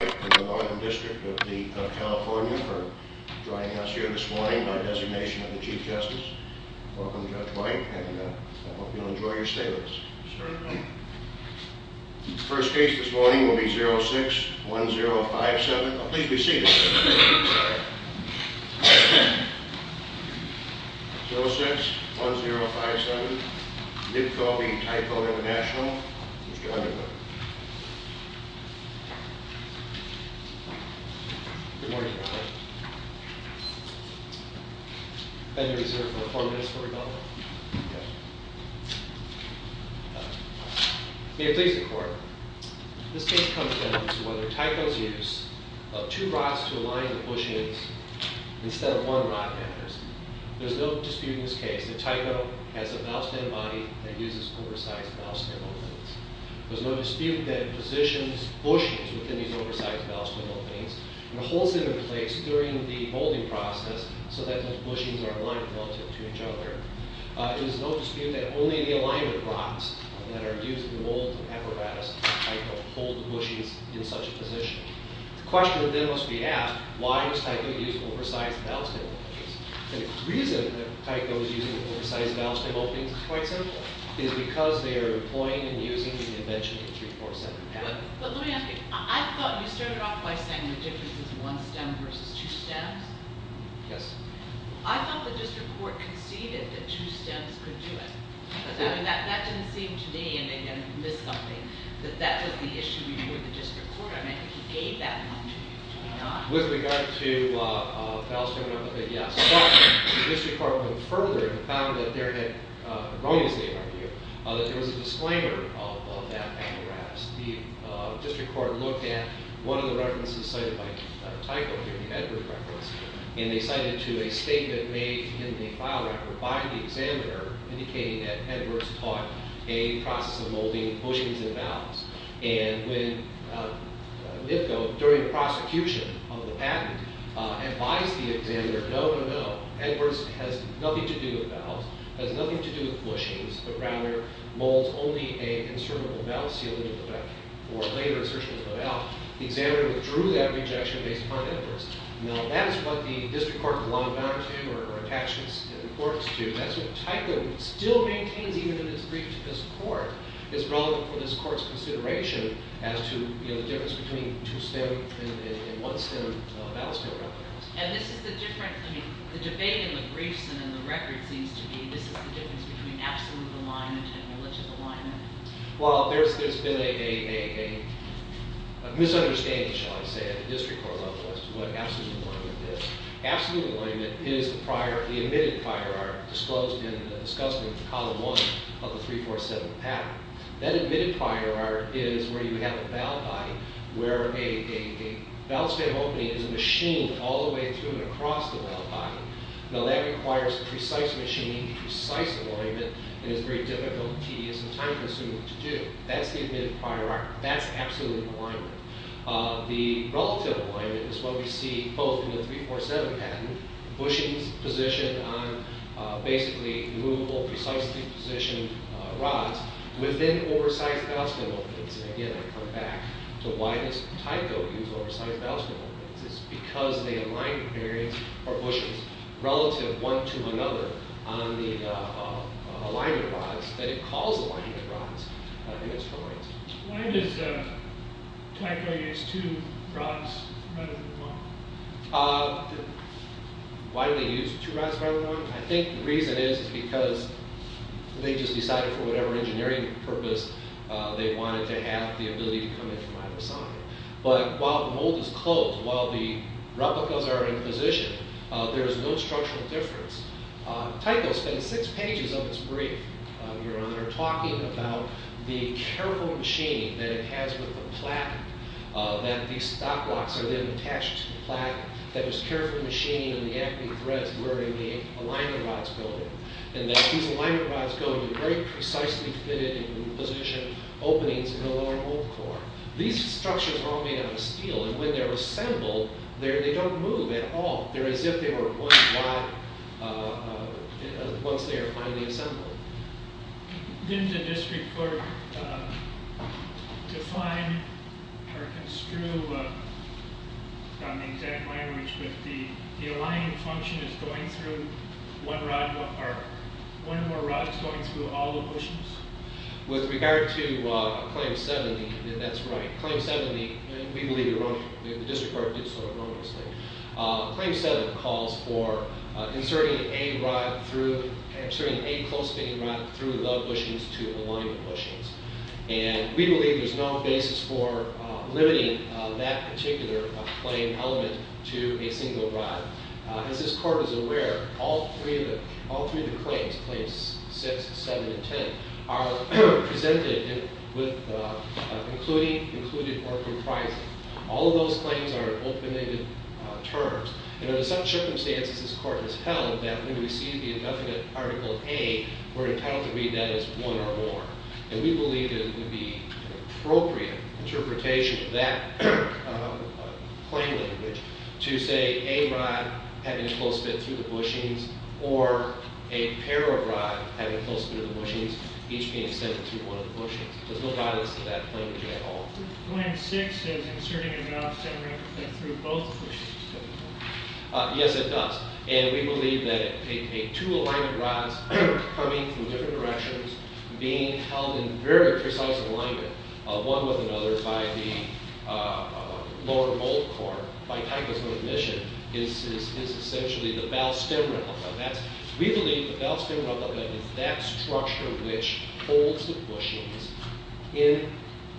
Thank you Judge White and the Northern District of California for joining us here this morning by designation of the Chief Justice. Welcome Judge White and I hope you'll enjoy your stay with us. Certainly. The first case this morning will be 06-1057. Please be seated. 06-1057 Nibco v. Tyco International. Mr. Underwood. Good morning Your Honor. Have you reserved for four minutes for rebuttal? Okay. May it please the Court. This case comes down to whether Tyco's use of two rods to align the bushes instead of one rod matters. There's no dispute in this case that Tyco has an outstanding body that uses oversized mouthstand openings. There's no dispute that it positions bushings within these oversized mouthstand openings and holds them in place during the molding process so that those bushings are aligned relative to each other. There's no dispute that only the alignment rods that are used to mold the apparatus of Tyco hold the bushings in such a position. The question then must be asked, why was Tyco using oversized mouthstand openings? And the reason that Tyco was using oversized mouthstand openings is quite simple. It's because they are employing and using the invention of the 3-4-7 method. But let me ask you. I thought you started off by saying the difference is one stem versus two stems. Yes. I thought the district court conceded that two stems could do it. I mean, that didn't seem to me, and again, I missed something, that that was the issue before the district court. I mean, he gave that one to you, did he not? With regard to the ballots coming up, yes. But the district court went further and found that there had erroneously argued that there was a disclaimer of that apparatus. The district court looked at one of the references cited by Tyco, the Edwards reference, and they cited to a statement made in the file record by the examiner indicating that Edwards taught a process of molding bushings and ballots. And when NIFCO, during the prosecution of the patent, advised the examiner, no, no, no, Edwards has nothing to do with ballots, has nothing to do with bushings, but rather molds only a insertable ballot seal into the ballot, or a later insertion of the ballot, the examiner withdrew that rejection based upon Edwards. Now, that is what the district court belonged down to or attached its importance to. That's what Tyco still maintains, even in its brief to this court. It's relevant for this court's consideration as to the difference between two-stem and one-stem ballots coming up. And this is the difference, I mean, the debate in the briefs and in the record seems to be this is the difference between absolute alignment and religious alignment. Well, there's been a misunderstanding, shall I say, at the district court level as to what absolute alignment is. Absolute alignment is the prior, the admitted prior art disclosed in discussing column one of the 347 pattern. That admitted prior art is where you have a ballot body where a ballot stamp opening is a machine all the way through and across the ballot body. Now, that requires precise machining, precise alignment, and is very difficult, tedious, and time-consuming to do. That's the admitted prior art. That's absolute alignment. The relative alignment is what we see both in the 347 pattern, bushings positioned on basically movable, precisely positioned rods within oversized ballot stamp openings. And again, I come back to why does Tyco use oversized ballot stamp openings. It's because they align the bushings relative one to another on the alignment rods, that it calls alignment rods in this case. Why does Tyco use two rods rather than one? Why do they use two rods rather than one? I think the reason is because they just decided for whatever engineering purpose they wanted to have the ability to come in from either side. But while the mold is closed, while the replicas are in position, there is no structural difference. Tyco spends six pages of his brief, Your Honor, talking about the careful machining that it has with the platen, that these stop blocks are then attached to the platen. That there's careful machining of the acting threads where the alignment rods go in. And that these alignment rods go in very precisely fitted in position openings in the lower mold core. These structures are all made out of steel, and when they're assembled, they don't move at all. They're as if they were one rod once they are finally assembled. Didn't the district court define or construe on the exact language that the aligning function is going through one rod, or one more rod is going through all the bushings? With regard to Claim 70, that's right. Claim 70, we believe the district court did so erroneously. Claim 70 calls for inserting a rod through, inserting a close fitting rod through the bushings to align the bushings. And we believe there's no basis for limiting that particular plane element to a single rod. As this court is aware, all three of the claims, Claims 6, 7, and 10, are presented with including, included, or comprising. All of those claims are open-ended terms. And under some circumstances, this court has held that when we receive the indefinite Article A, we're entitled to read that as one or more. And we believe that it would be an appropriate interpretation of that claim language to say a rod having a close fit through the bushings, or a pair of rods having a close fit through the bushings, each being sent through one of the bushings. There's no bias to that language at all. Claim 6 is inserting a valve stem rod through both bushings. Yes, it does. And we believe that a two-alignment rod coming from different directions, being held in very precise alignment, one with another by the lower bolt core, by typism of admission, is essentially the valve stem rod. We believe the valve stem rod is that structure which holds the bushings in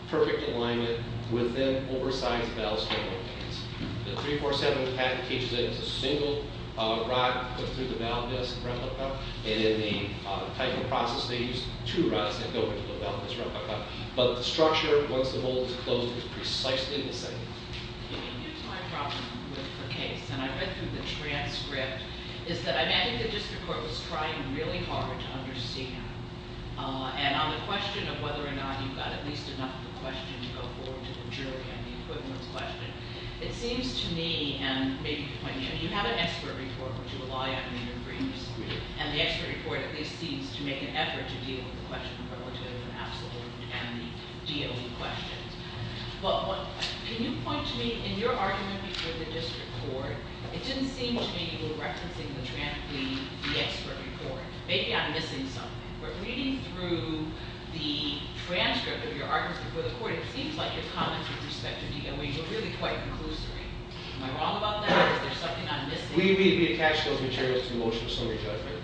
perfect alignment with an oversized valve stem rod case. The 347 patent teaches that it's a single rod put through the valve disk replica. And in the typing process, they used two rods that go into the valve disk replica. But the structure, once the bolt is closed, is precisely the same. Here's my problem with the case. And I read through the transcript, is that I imagine the district court was trying really hard to understand. And on the question of whether or not you've got at least enough of a question to go forward to the jury on the equivalent question, it seems to me, and maybe to point you out, you have an expert report which you rely on in your briefs. And the expert report at least seems to make an effort to deal with the question relative to the absolute and the DOE questions. Well, can you point to me, in your argument with the district court, it didn't seem to me you were referencing the transcript, the expert report. Maybe I'm missing something. But reading through the transcript of your argument with the court, it seems like your comments were prospective to DOE. You're really quite conclusory. Am I wrong about that, or is there something I'm missing? We attached those materials to the motion of summary judgment.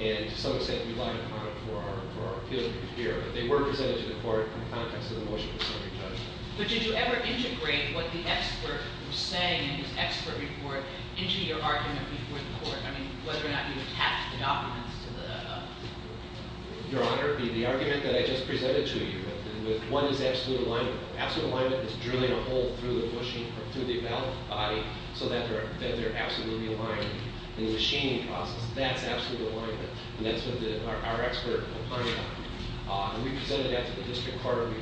And to some extent, we lied about it for our appeal to the jury. But they were presented to the court in the context of the motion of summary judgment. But did you ever integrate what the expert was saying in his expert report into your argument before the court? I mean, whether or not you attached the documents to the- Your Honor, the argument that I just presented to you with one is absolute alignment. Absolute alignment is drilling a hole through the bushing, through the valve body, so that they're absolutely aligned in the machining process. That's absolute alignment. And that's what our expert opined on. And we presented that to the district court. We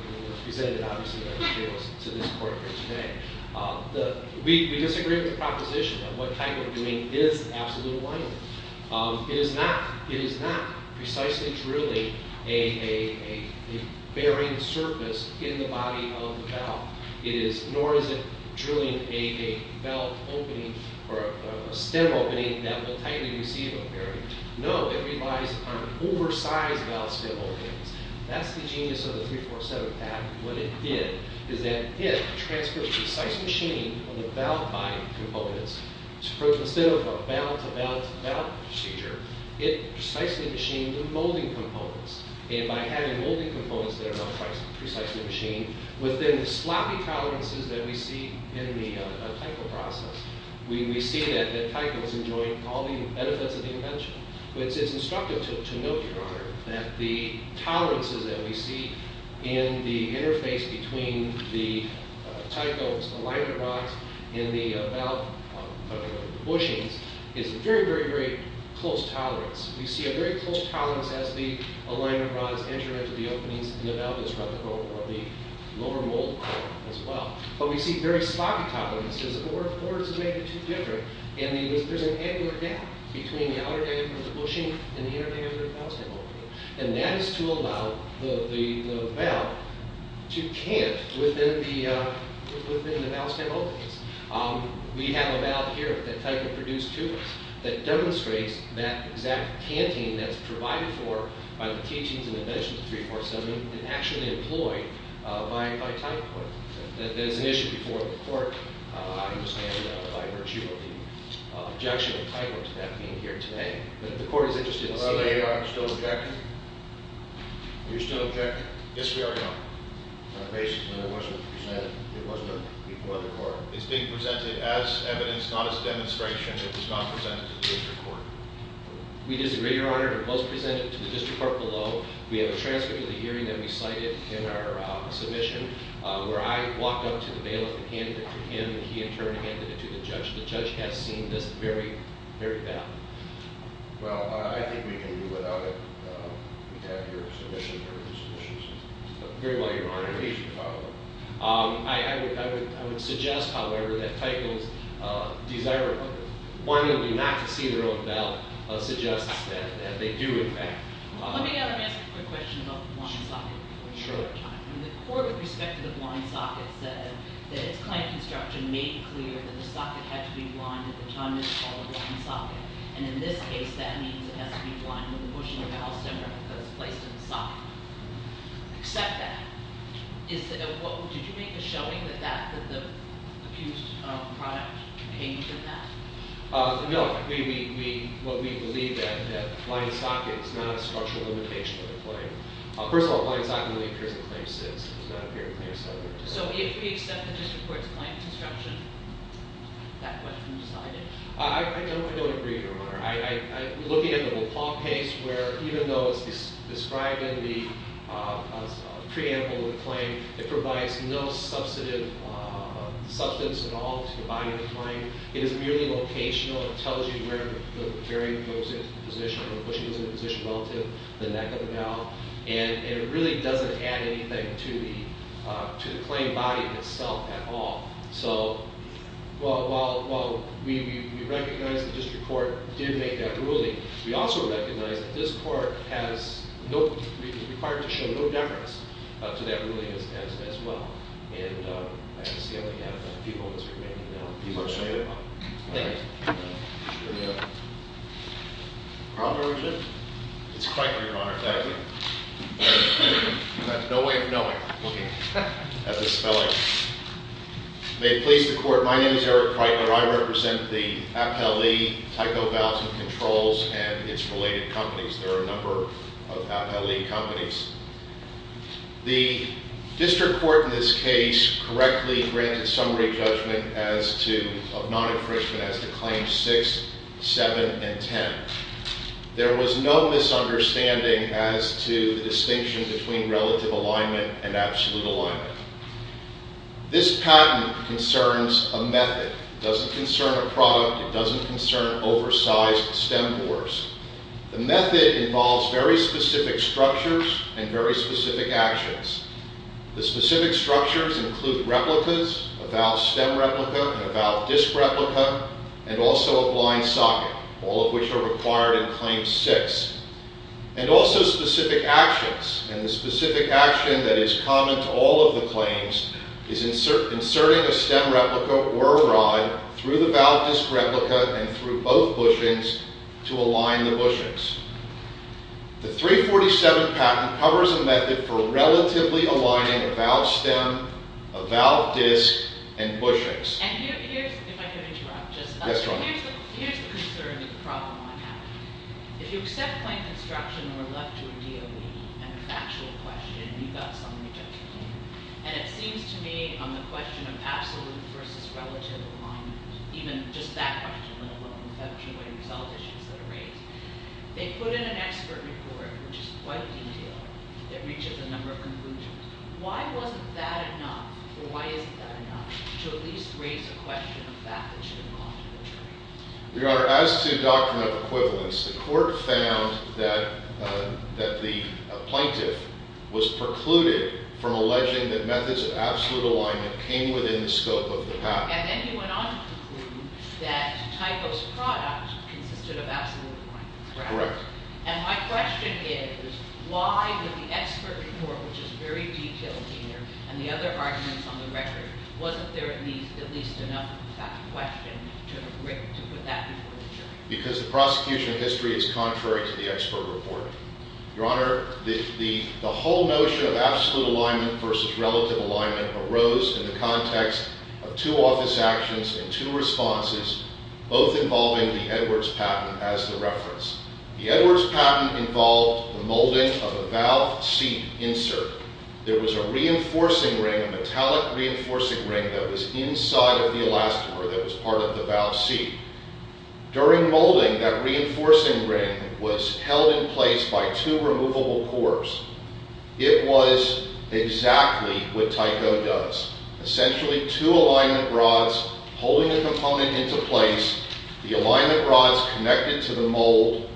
presented, obviously, our materials to this court here today. We disagree with the proposition of what type of drilling is absolute alignment. It is not precisely drilling a bearing surface in the body of the valve. Nor is it drilling a valve opening or a stem opening that will tightly receive a bearing. No, it relies on oversized valve stem openings. That's the genius of the 347 Act. What it did is that it transferred precise machining of the valve body components. Instead of a valve-to-valve-to-valve procedure, it precisely machined the molding components. And by having molding components that are not precisely machined, within the sloppy tolerances that we see in the Tyco process, we see that Tyco is enjoying all the benefits of the invention. It's instructive to note, Your Honor, that the tolerances that we see in the interface between the Tyco's alignment rods and the valve bushings is a very, very, very close tolerance. We see a very close tolerance as the alignment rods enter into the openings and the valve is running over the lower mold as well. But we see very sloppy tolerances. There's an angular gap between the outer end of the bushing and the inner end of the valve stem opening. And that is to allow the valve to cant within the valve stem openings. We have a valve here that Tyco produced to us that demonstrates that exact canting that's provided for by the teachings and inventions of the 347 and actually employed by Tyco. There's an issue before the court, I understand, by virtue of the objection of Tyco to that being here today. But if the court is interested to see- Are they still objecting? Are you still objecting? Yes, we are, Your Honor. Basically, it wasn't presented. It wasn't before the court. It's being presented as evidence, not as demonstration. It is not presented to the district court. We disagree, Your Honor. It was presented to the district court below. We have a transcript of the hearing that we cited in our submission where I walked up to the bailiff and handed it to him. He, in turn, handed it to the judge. The judge has seen this very, very badly. Well, I think we can do without it. We have your submission. We have your submissions. Very well, Your Honor. At least you thought of them. I would suggest, however, that Tyco's desire of wanting me not to see their own valve suggests that they do, in fact. Let me ask a quick question about the blind socket for a short time. The court, with respect to the blind socket, said that its client construction made clear that the socket had to be blinded. At the time, it was called a blind socket. And in this case, that means it has to be blinded when the bushing or valve center is placed in the socket. Except that, did you make a showing that the accused product came from that? No. We believe that blind socket is not a structural limitation of the claim. First of all, blind socket only appears in Claim 6. It does not appear in Claim 7 or 8. So if we accept the district court's client construction, that question is decided? I don't agree, Your Honor. I'm looking at the LaPaul case where even though it's described in the preamble of the claim, it provides no substantive substance at all to the body of the claim. It is merely locational. It tells you where the bearing goes into the position, where the bushing is in the position relative to the neck of the valve. And it really doesn't add anything to the claim body itself at all. So while we recognize the district court did make that ruling, we also recognize that this court is required to show no deference to that ruling as well. And I see I only have a few moments remaining now. People are saying it. All right. Problem or issue? It's Kreitler, Your Honor. Thank you. I have no way of knowing, looking at the spelling. May it please the court. My name is Eric Kreitler. I represent the Appellee Tyco Valves and Controls and its related companies. There are a number of Appellee companies. The district court in this case correctly granted summary judgment of non-enfranchisement as to Claims 6, 7, and 10. There was no misunderstanding as to the distinction between relative alignment and absolute alignment. This patent concerns a method. It doesn't concern a product. It doesn't concern oversized stem bores. The method involves very specific structures and very specific actions. The specific structures include replicas, a valve stem replica and a valve disc replica, and also a blind socket, all of which are required in Claim 6, and also specific actions, and the specific action that is common to all of the claims is inserting a stem replica or a rod through the valve disc replica and through both bushings to align the bushings. The 347 patent covers a method for relatively aligning a valve stem, a valve disc, and bushings. And here's, if I could interrupt just a minute. Yes, Your Honor. Here's the concern, the problem I have. If you accept claim construction or left to a DOE and a factual question, you've got summary judgment. And it seems to me on the question of absolute versus relative alignment, even just that question, let alone the factual and result issues that are raised, they put in an expert report, which is quite detailed, that reaches a number of conclusions. Why wasn't that enough, or why isn't that enough, to at least raise a question of that that should have gone to a jury? Your Honor, as to doctrine of equivalence, the court found that the plaintiff was precluded from alleging that methods of absolute alignment came within the scope of the patent. And then he went on to conclude that Typo's product consisted of absolute alignment. Correct. And my question is, why did the expert report, which is very detailed here, and the other arguments on the record, wasn't there at least enough of a fact question to put that before the jury? Because the prosecution history is contrary to the expert report. Your Honor, the whole notion of absolute alignment versus relative alignment arose in the context of two office actions and two responses, both involving the Edwards patent as the reference. The Edwards patent involved the molding of a valve seat insert. There was a reinforcing ring, a metallic reinforcing ring, that was inside of the elastomer that was part of the valve seat. During molding, that reinforcing ring was held in place by two removable cores. It was exactly what Typo does. Essentially, two alignment rods holding the component into place, the alignment rods connected to the mold,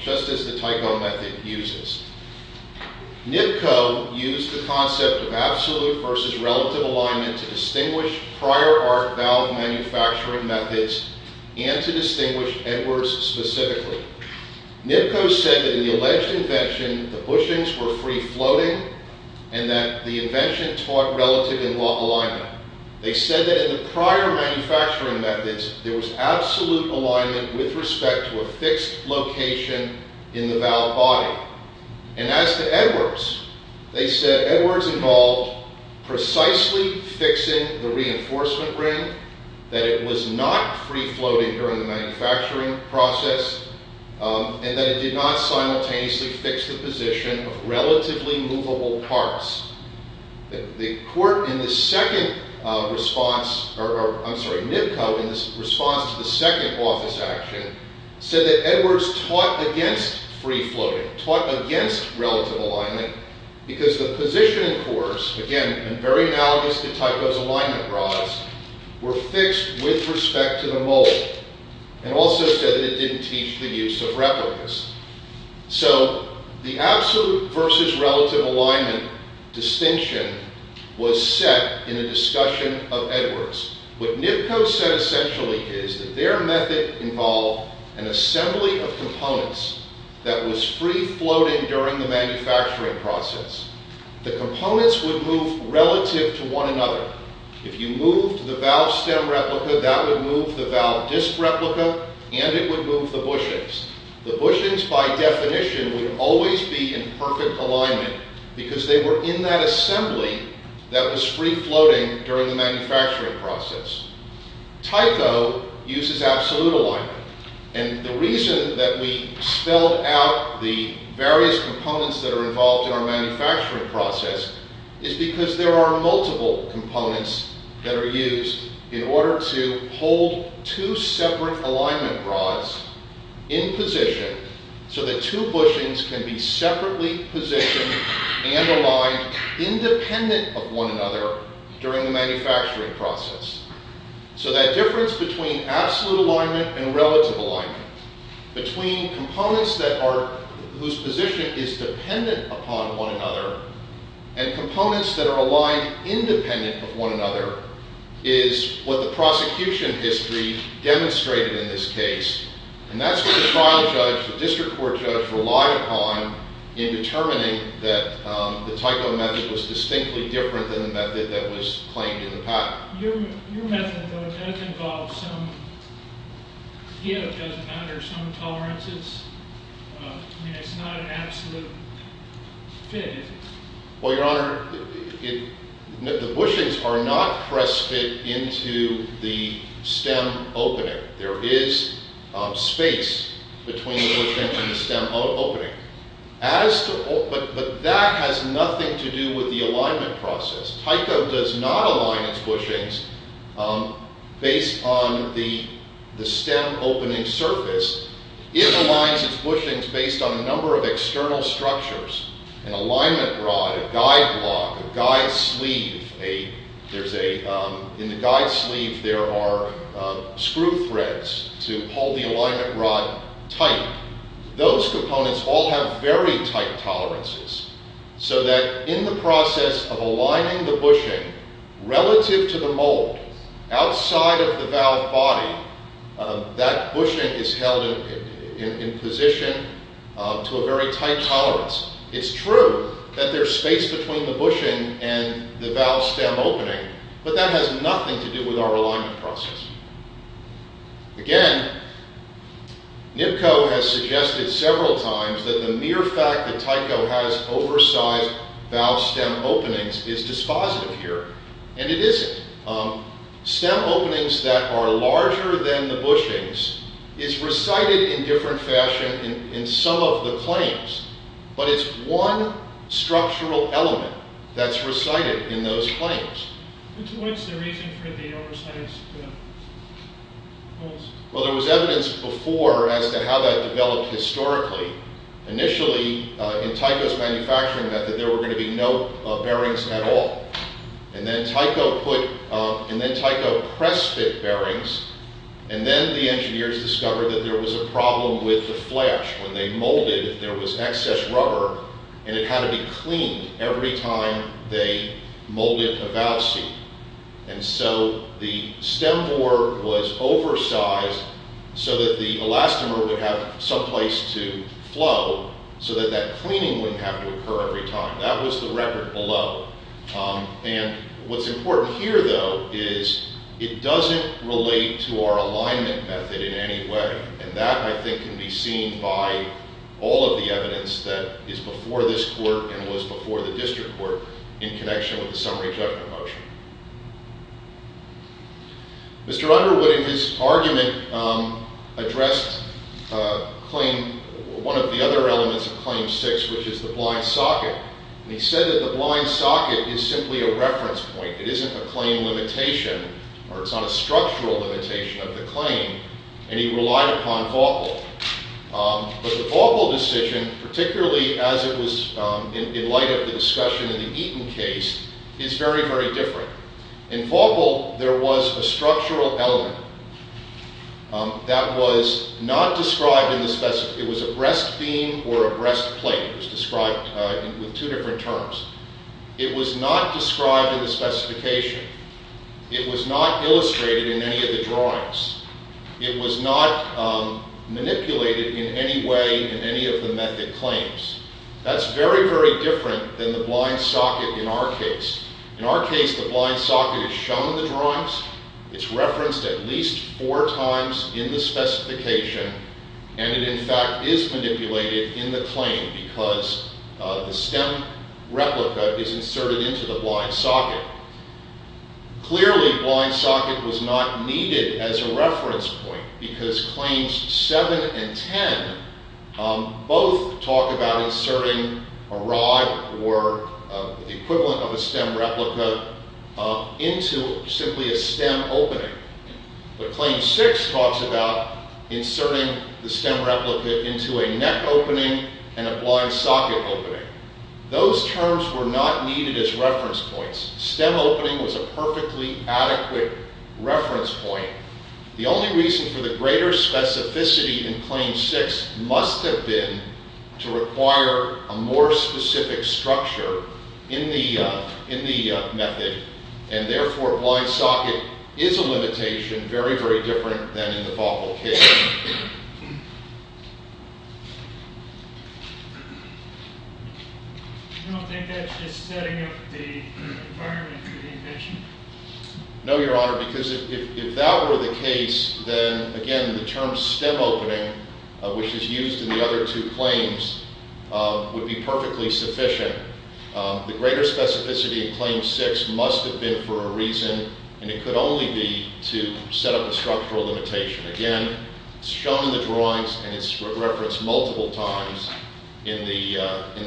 just as the Typo method uses. NIPCO used the concept of absolute versus relative alignment to distinguish prior arc valve manufacturing methods and to distinguish Edwards specifically. NIPCO said that in the alleged invention, the bushings were free-floating and that the invention taught relative alignment. They said that in the prior manufacturing methods, there was absolute alignment with respect to a fixed location in the valve body. As to Edwards, they said Edwards involved precisely fixing the reinforcement ring, that it was not free-floating during the manufacturing process, and that it did not simultaneously fix the position of relatively movable parts. NIPCO, in its response to the second office action, said that Edwards taught against free-floating, taught against relative alignment, because the positioning cores, again, in very analogous to Typo's alignment rods, were fixed with respect to the mold, and also said that it didn't teach the use of replicas. So, the absolute versus relative alignment distinction was set in a discussion of Edwards. What NIPCO said essentially is that their method involved an assembly of components that was free-floating during the manufacturing process. The components would move relative to one another. If you moved the valve stem replica, that would move the valve disc replica, and it would move the bushings. The bushings, by definition, would always be in perfect alignment, because they were in that assembly that was free-floating during the manufacturing process. Typo uses absolute alignment. And the reason that we spelled out the various components that are involved in our manufacturing process is because there are multiple components that are used in order to hold two separate alignment rods in position, so that two bushings can be separately positioned and aligned independent of one another during the manufacturing process. So that difference between absolute alignment and relative alignment, between components whose position is dependent upon one another, and components that are aligned independent of one another, is what the prosecution history demonstrated in this case. And that's what the trial judge, the district court judge, relied upon in determining that the typo method was distinctly different than the method that was claimed in the patent. Your method, though, does involve some, it doesn't matter, some tolerances? I mean, it's not an absolute fit, is it? Well, Your Honor, the bushings are not pressed fit into the stem opening. There is space between the bushing and the stem opening. But that has nothing to do with the alignment process. Tyco does not align its bushings based on the stem opening surface. It aligns its bushings based on a number of external structures, an alignment rod, a guide block, a guide sleeve. In the guide sleeve there are screw threads to hold the alignment rod tight. Those components all have very tight tolerances, so that in the process of aligning the bushing relative to the mold, outside of the valve body, that bushing is held in position to a very tight tolerance. It's true that there's space between the bushing and the valve stem opening, but that has nothing to do with our alignment process. Again, NIPCO has suggested several times that the mere fact that Tyco has oversized valve stem openings is dispositive here, and it isn't. Stem openings that are larger than the bushings is recited in different fashion in some of the claims, but it's one structural element that's recited in those claims. What's the reason for the oversized valves? There was evidence before as to how that developed historically. Initially, in Tyco's manufacturing method, there were going to be no bearings at all. Then Tyco pressed the bearings, and then the engineers discovered that there was a problem with the flash. When they molded, there was excess rubber, and it had to be cleaned every time they molded a valve seat. The stem bore was oversized so that the elastomer would have some place to flow, so that that cleaning wouldn't have to occur every time. That was the record below. What's important here, though, is it doesn't relate to our alignment method in any way. That, I think, can be seen by all of the evidence that is before this court and was before the district court in connection with the summary judgment motion. Mr. Underwood, in his argument, addressed one of the other elements of Claim 6, which is the blind socket. He said that the blind socket is simply a reference point. It isn't a claim limitation, or it's not a structural limitation of the claim. And he relied upon Vaubel. But the Vaubel decision, particularly as it was in light of the discussion in the Eaton case, is very, very different. In Vaubel, there was a structural element that was not described in the specification. It was a breast beam or a breast plate. It was described with two different terms. It was not described in the specification. It was not illustrated in any of the drawings. It was not manipulated in any way in any of the method claims. That's very, very different than the blind socket in our case. In our case, the blind socket is shown in the drawings. It's referenced at least four times in the specification. And it, in fact, is manipulated in the claim because the stem replica is inserted into the blind socket. Clearly, blind socket was not needed as a reference point because Claims 7 and 10 both talk about inserting a rod or the equivalent of a stem replica into simply a stem opening. But Claim 6 talks about inserting the stem replica into a neck opening and a blind socket opening. Those terms were not needed as reference points. Stem opening was a perfectly adequate reference point. The only reason for the greater specificity in Claim 6 must have been to require a more specific structure in the method. And therefore, blind socket is a limitation very, very different than in the Vaubel case. I don't think that's just setting up the environment for the invention. No, Your Honor, because if that were the case, then, again, the term stem opening, which is used in the other two claims, would be perfectly sufficient. The greater specificity in Claim 6 must have been for a reason, and it could only be to set up a structural limitation. Again, it's shown in the drawings and it's referenced multiple times in the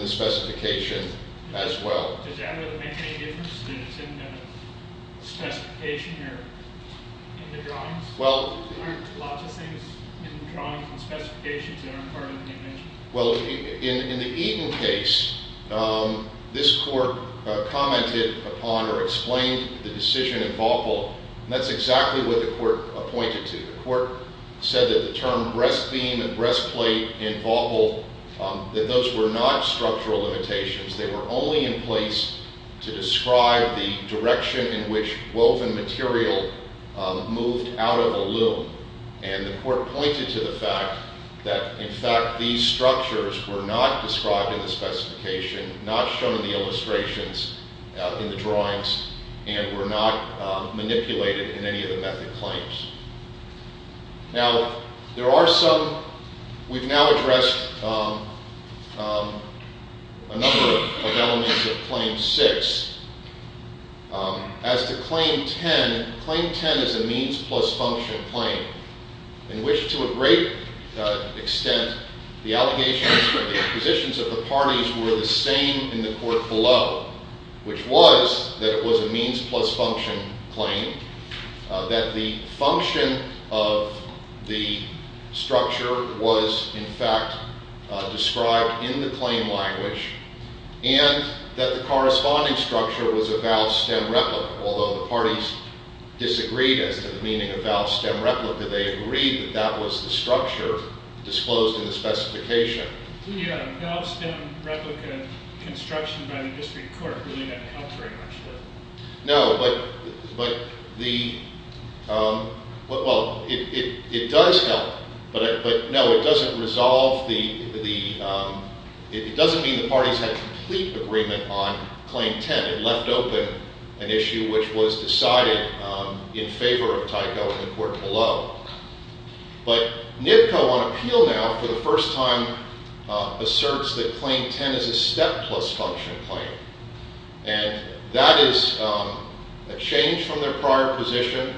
specification as well. Well, in the Eaton case, this court commented upon or explained the decision in Vaubel, and that's exactly what the court appointed to. The court said that the term breastbeam and breastplate in Vaubel, that those were not structural limitations. They were only in place to describe the direction in which woven material moved out of a loom. And the court pointed to the fact that, in fact, these structures were not described in the specification, not shown in the illustrations, in the drawings, and were not manipulated in any of the method claims. Now, there are some. We've now addressed a number of elements of Claim 6. As to Claim 10, Claim 10 is a means plus function claim in which, to a great extent, the allegations from the acquisitions of the parties were the same in the court below, which was that it was a means plus function claim, that the function of the structure was, in fact, described in the claim language, and that the corresponding structure was a Vaub stem replica, although the parties disagreed as to the meaning of Vaub stem replica. They agreed that that was the structure disclosed in the specification. The Vaub stem replica construction by the district court really didn't help very much there. No, but the... Well, it does help, but no, it doesn't resolve the... It doesn't mean the parties had complete agreement on Claim 10. And it left open an issue which was decided in favor of Tyco in the court below. But NIPCO, on appeal now, for the first time, asserts that Claim 10 is a step plus function claim. And that is a change from their prior position.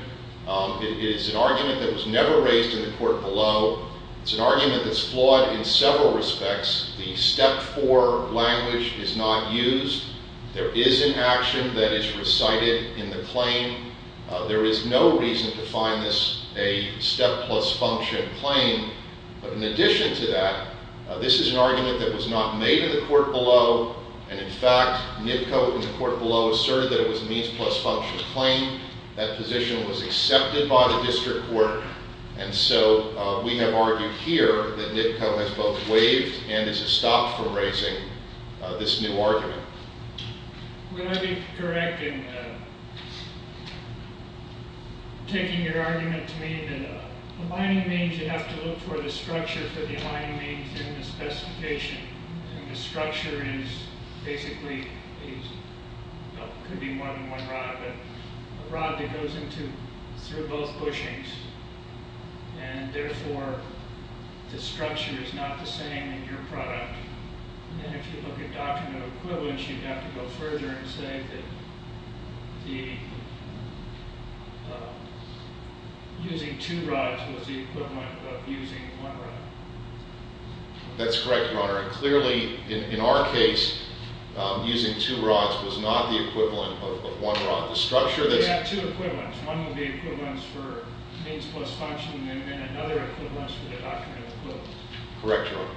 It is an argument that was never raised in the court below. It's an argument that's flawed in several respects. The Step 4 language is not used. There is an action that is recited in the claim. There is no reason to find this a step plus function claim. But in addition to that, this is an argument that was not made in the court below. And, in fact, NIPCO in the court below asserted that it was a means plus function claim. That position was accepted by the district court. And so we have argued here that NIPCO has both waived and has stopped from raising this new argument. Would I be correct in taking your argument to mean that aligning means, you have to look for the structure for the aligning means in the specification. And the structure is basically, could be one rod, but a rod that goes through both bushings. And, therefore, the structure is not the same in your product. And if you look at doctrinal equivalence, you'd have to go further and say that using two rods was the equivalent of using one rod. That's correct, Your Honor. Clearly, in our case, using two rods was not the equivalent of one rod. We have two equivalents. One would be equivalence for means plus function and another equivalence for the doctrinal equivalence. Correct, Your Honor.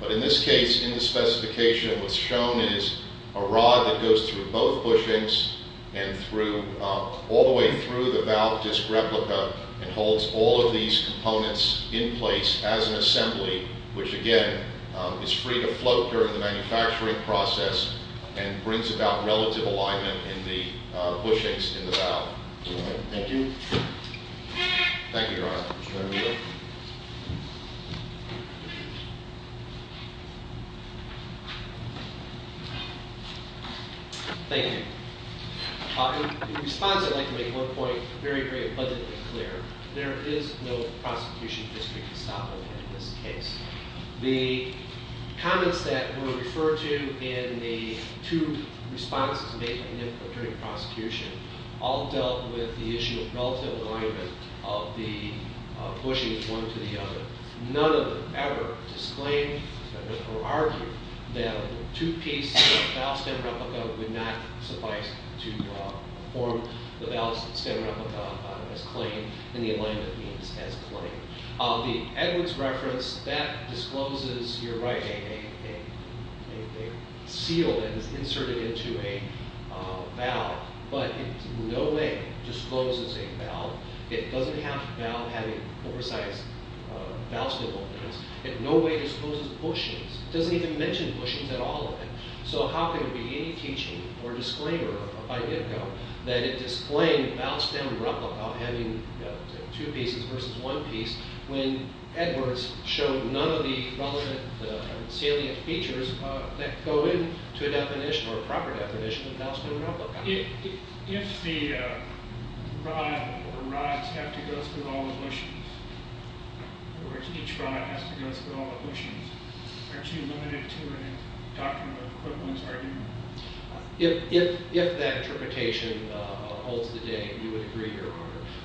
But in this case, in the specification, what's shown is a rod that goes through both bushings and all the way through the valve disc replica and holds all of these components in place as an assembly, which, again, is free to float during the manufacturing process and brings about relative alignment in the bushings in the valve. Thank you. Thank you, Your Honor. Mr. Ramillo. Thank you. In response, I'd like to make one point very, very abundantly clear. There is no prosecution history to stop it in this case. The comments that were referred to in the two responses made by NIFA during prosecution all dealt with the issue of relative alignment of the bushings, one to the other. None of them ever disclaimed or argued that two pieces of valve stem replica would not suffice to form the valve stem replica as claimed. And the alignment means as claimed. The Edwards reference, that discloses, you're right, a seal that is inserted into a valve. But it in no way discloses a valve. It doesn't have a valve having oversized valve stem openings. It in no way discloses bushings. It doesn't even mention bushings at all in it. So how can it be any teaching or disclaimer by NIFA that it disclaimed valve stem replica having two pieces versus one piece when Edwards showed none of the relevant salient features that go into a definition or proper definition of valve stem replica? If the rod or rods have to go through all the bushings, in other words, each rod has to go through all the bushings, aren't you limited to a doctrine of equivalence argument? If that interpretation holds today, we would agree, Your Honor.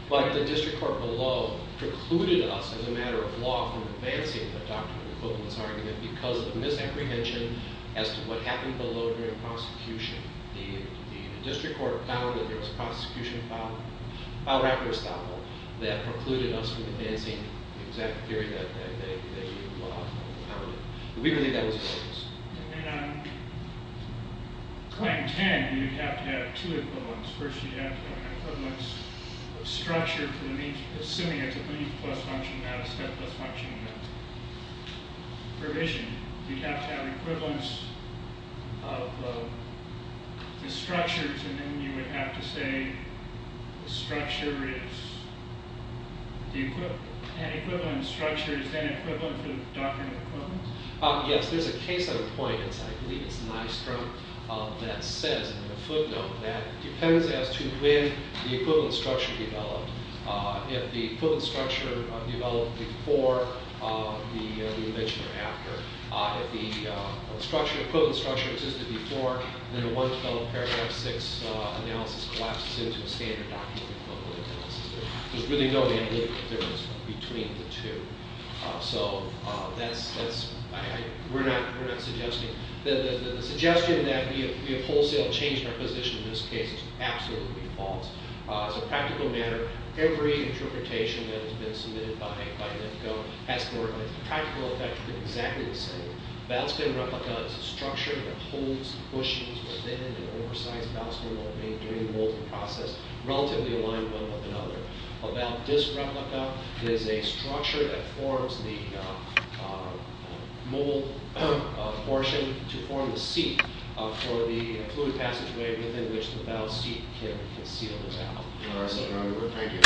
But the district court below precluded us as a matter of law from advancing a doctrine of equivalence argument because of misapprehension as to what happened below during prosecution. The district court found that there was a prosecution of valve replica estoppel that precluded us from advancing the exact theory that they wanted. We believe that was the case. And on Claim 10, you'd have to have two equivalents. First, you'd have to have an equivalence of structure to the means, assuming it's a means-plus function, not a step-plus function provision. You'd have to have equivalence of the structures, and then you would have to say the structure is the equivalent. An equivalent structure is then equivalent to the doctrine of equivalence? Yes, there's a case on the point, and I believe it's Nystrom, that says in the footnote that it depends as to when the equivalent structure developed. If the equivalent structure developed before the eviction or after. If the equivalent structure existed before, then the one developed paragraph 6 analysis collapses into a standard document equivalent analysis. There's really no analytical difference between the two. So we're not suggesting. The suggestion that we have wholesale changed our position in this case is absolutely false. As a practical matter, every interpretation that has been submitted by NIFCO has the practical effect of being exactly the same. Bounce bin replica is a structure that holds, pushes within an oversized bounce bin while doing the molding process, relatively aligned with one another. A bounce disc replica is a structure that forms the mold portion to form the seat for the fluid passageway within which the bounce seat can seal the valve. All right, Senator Underwood. Thank you.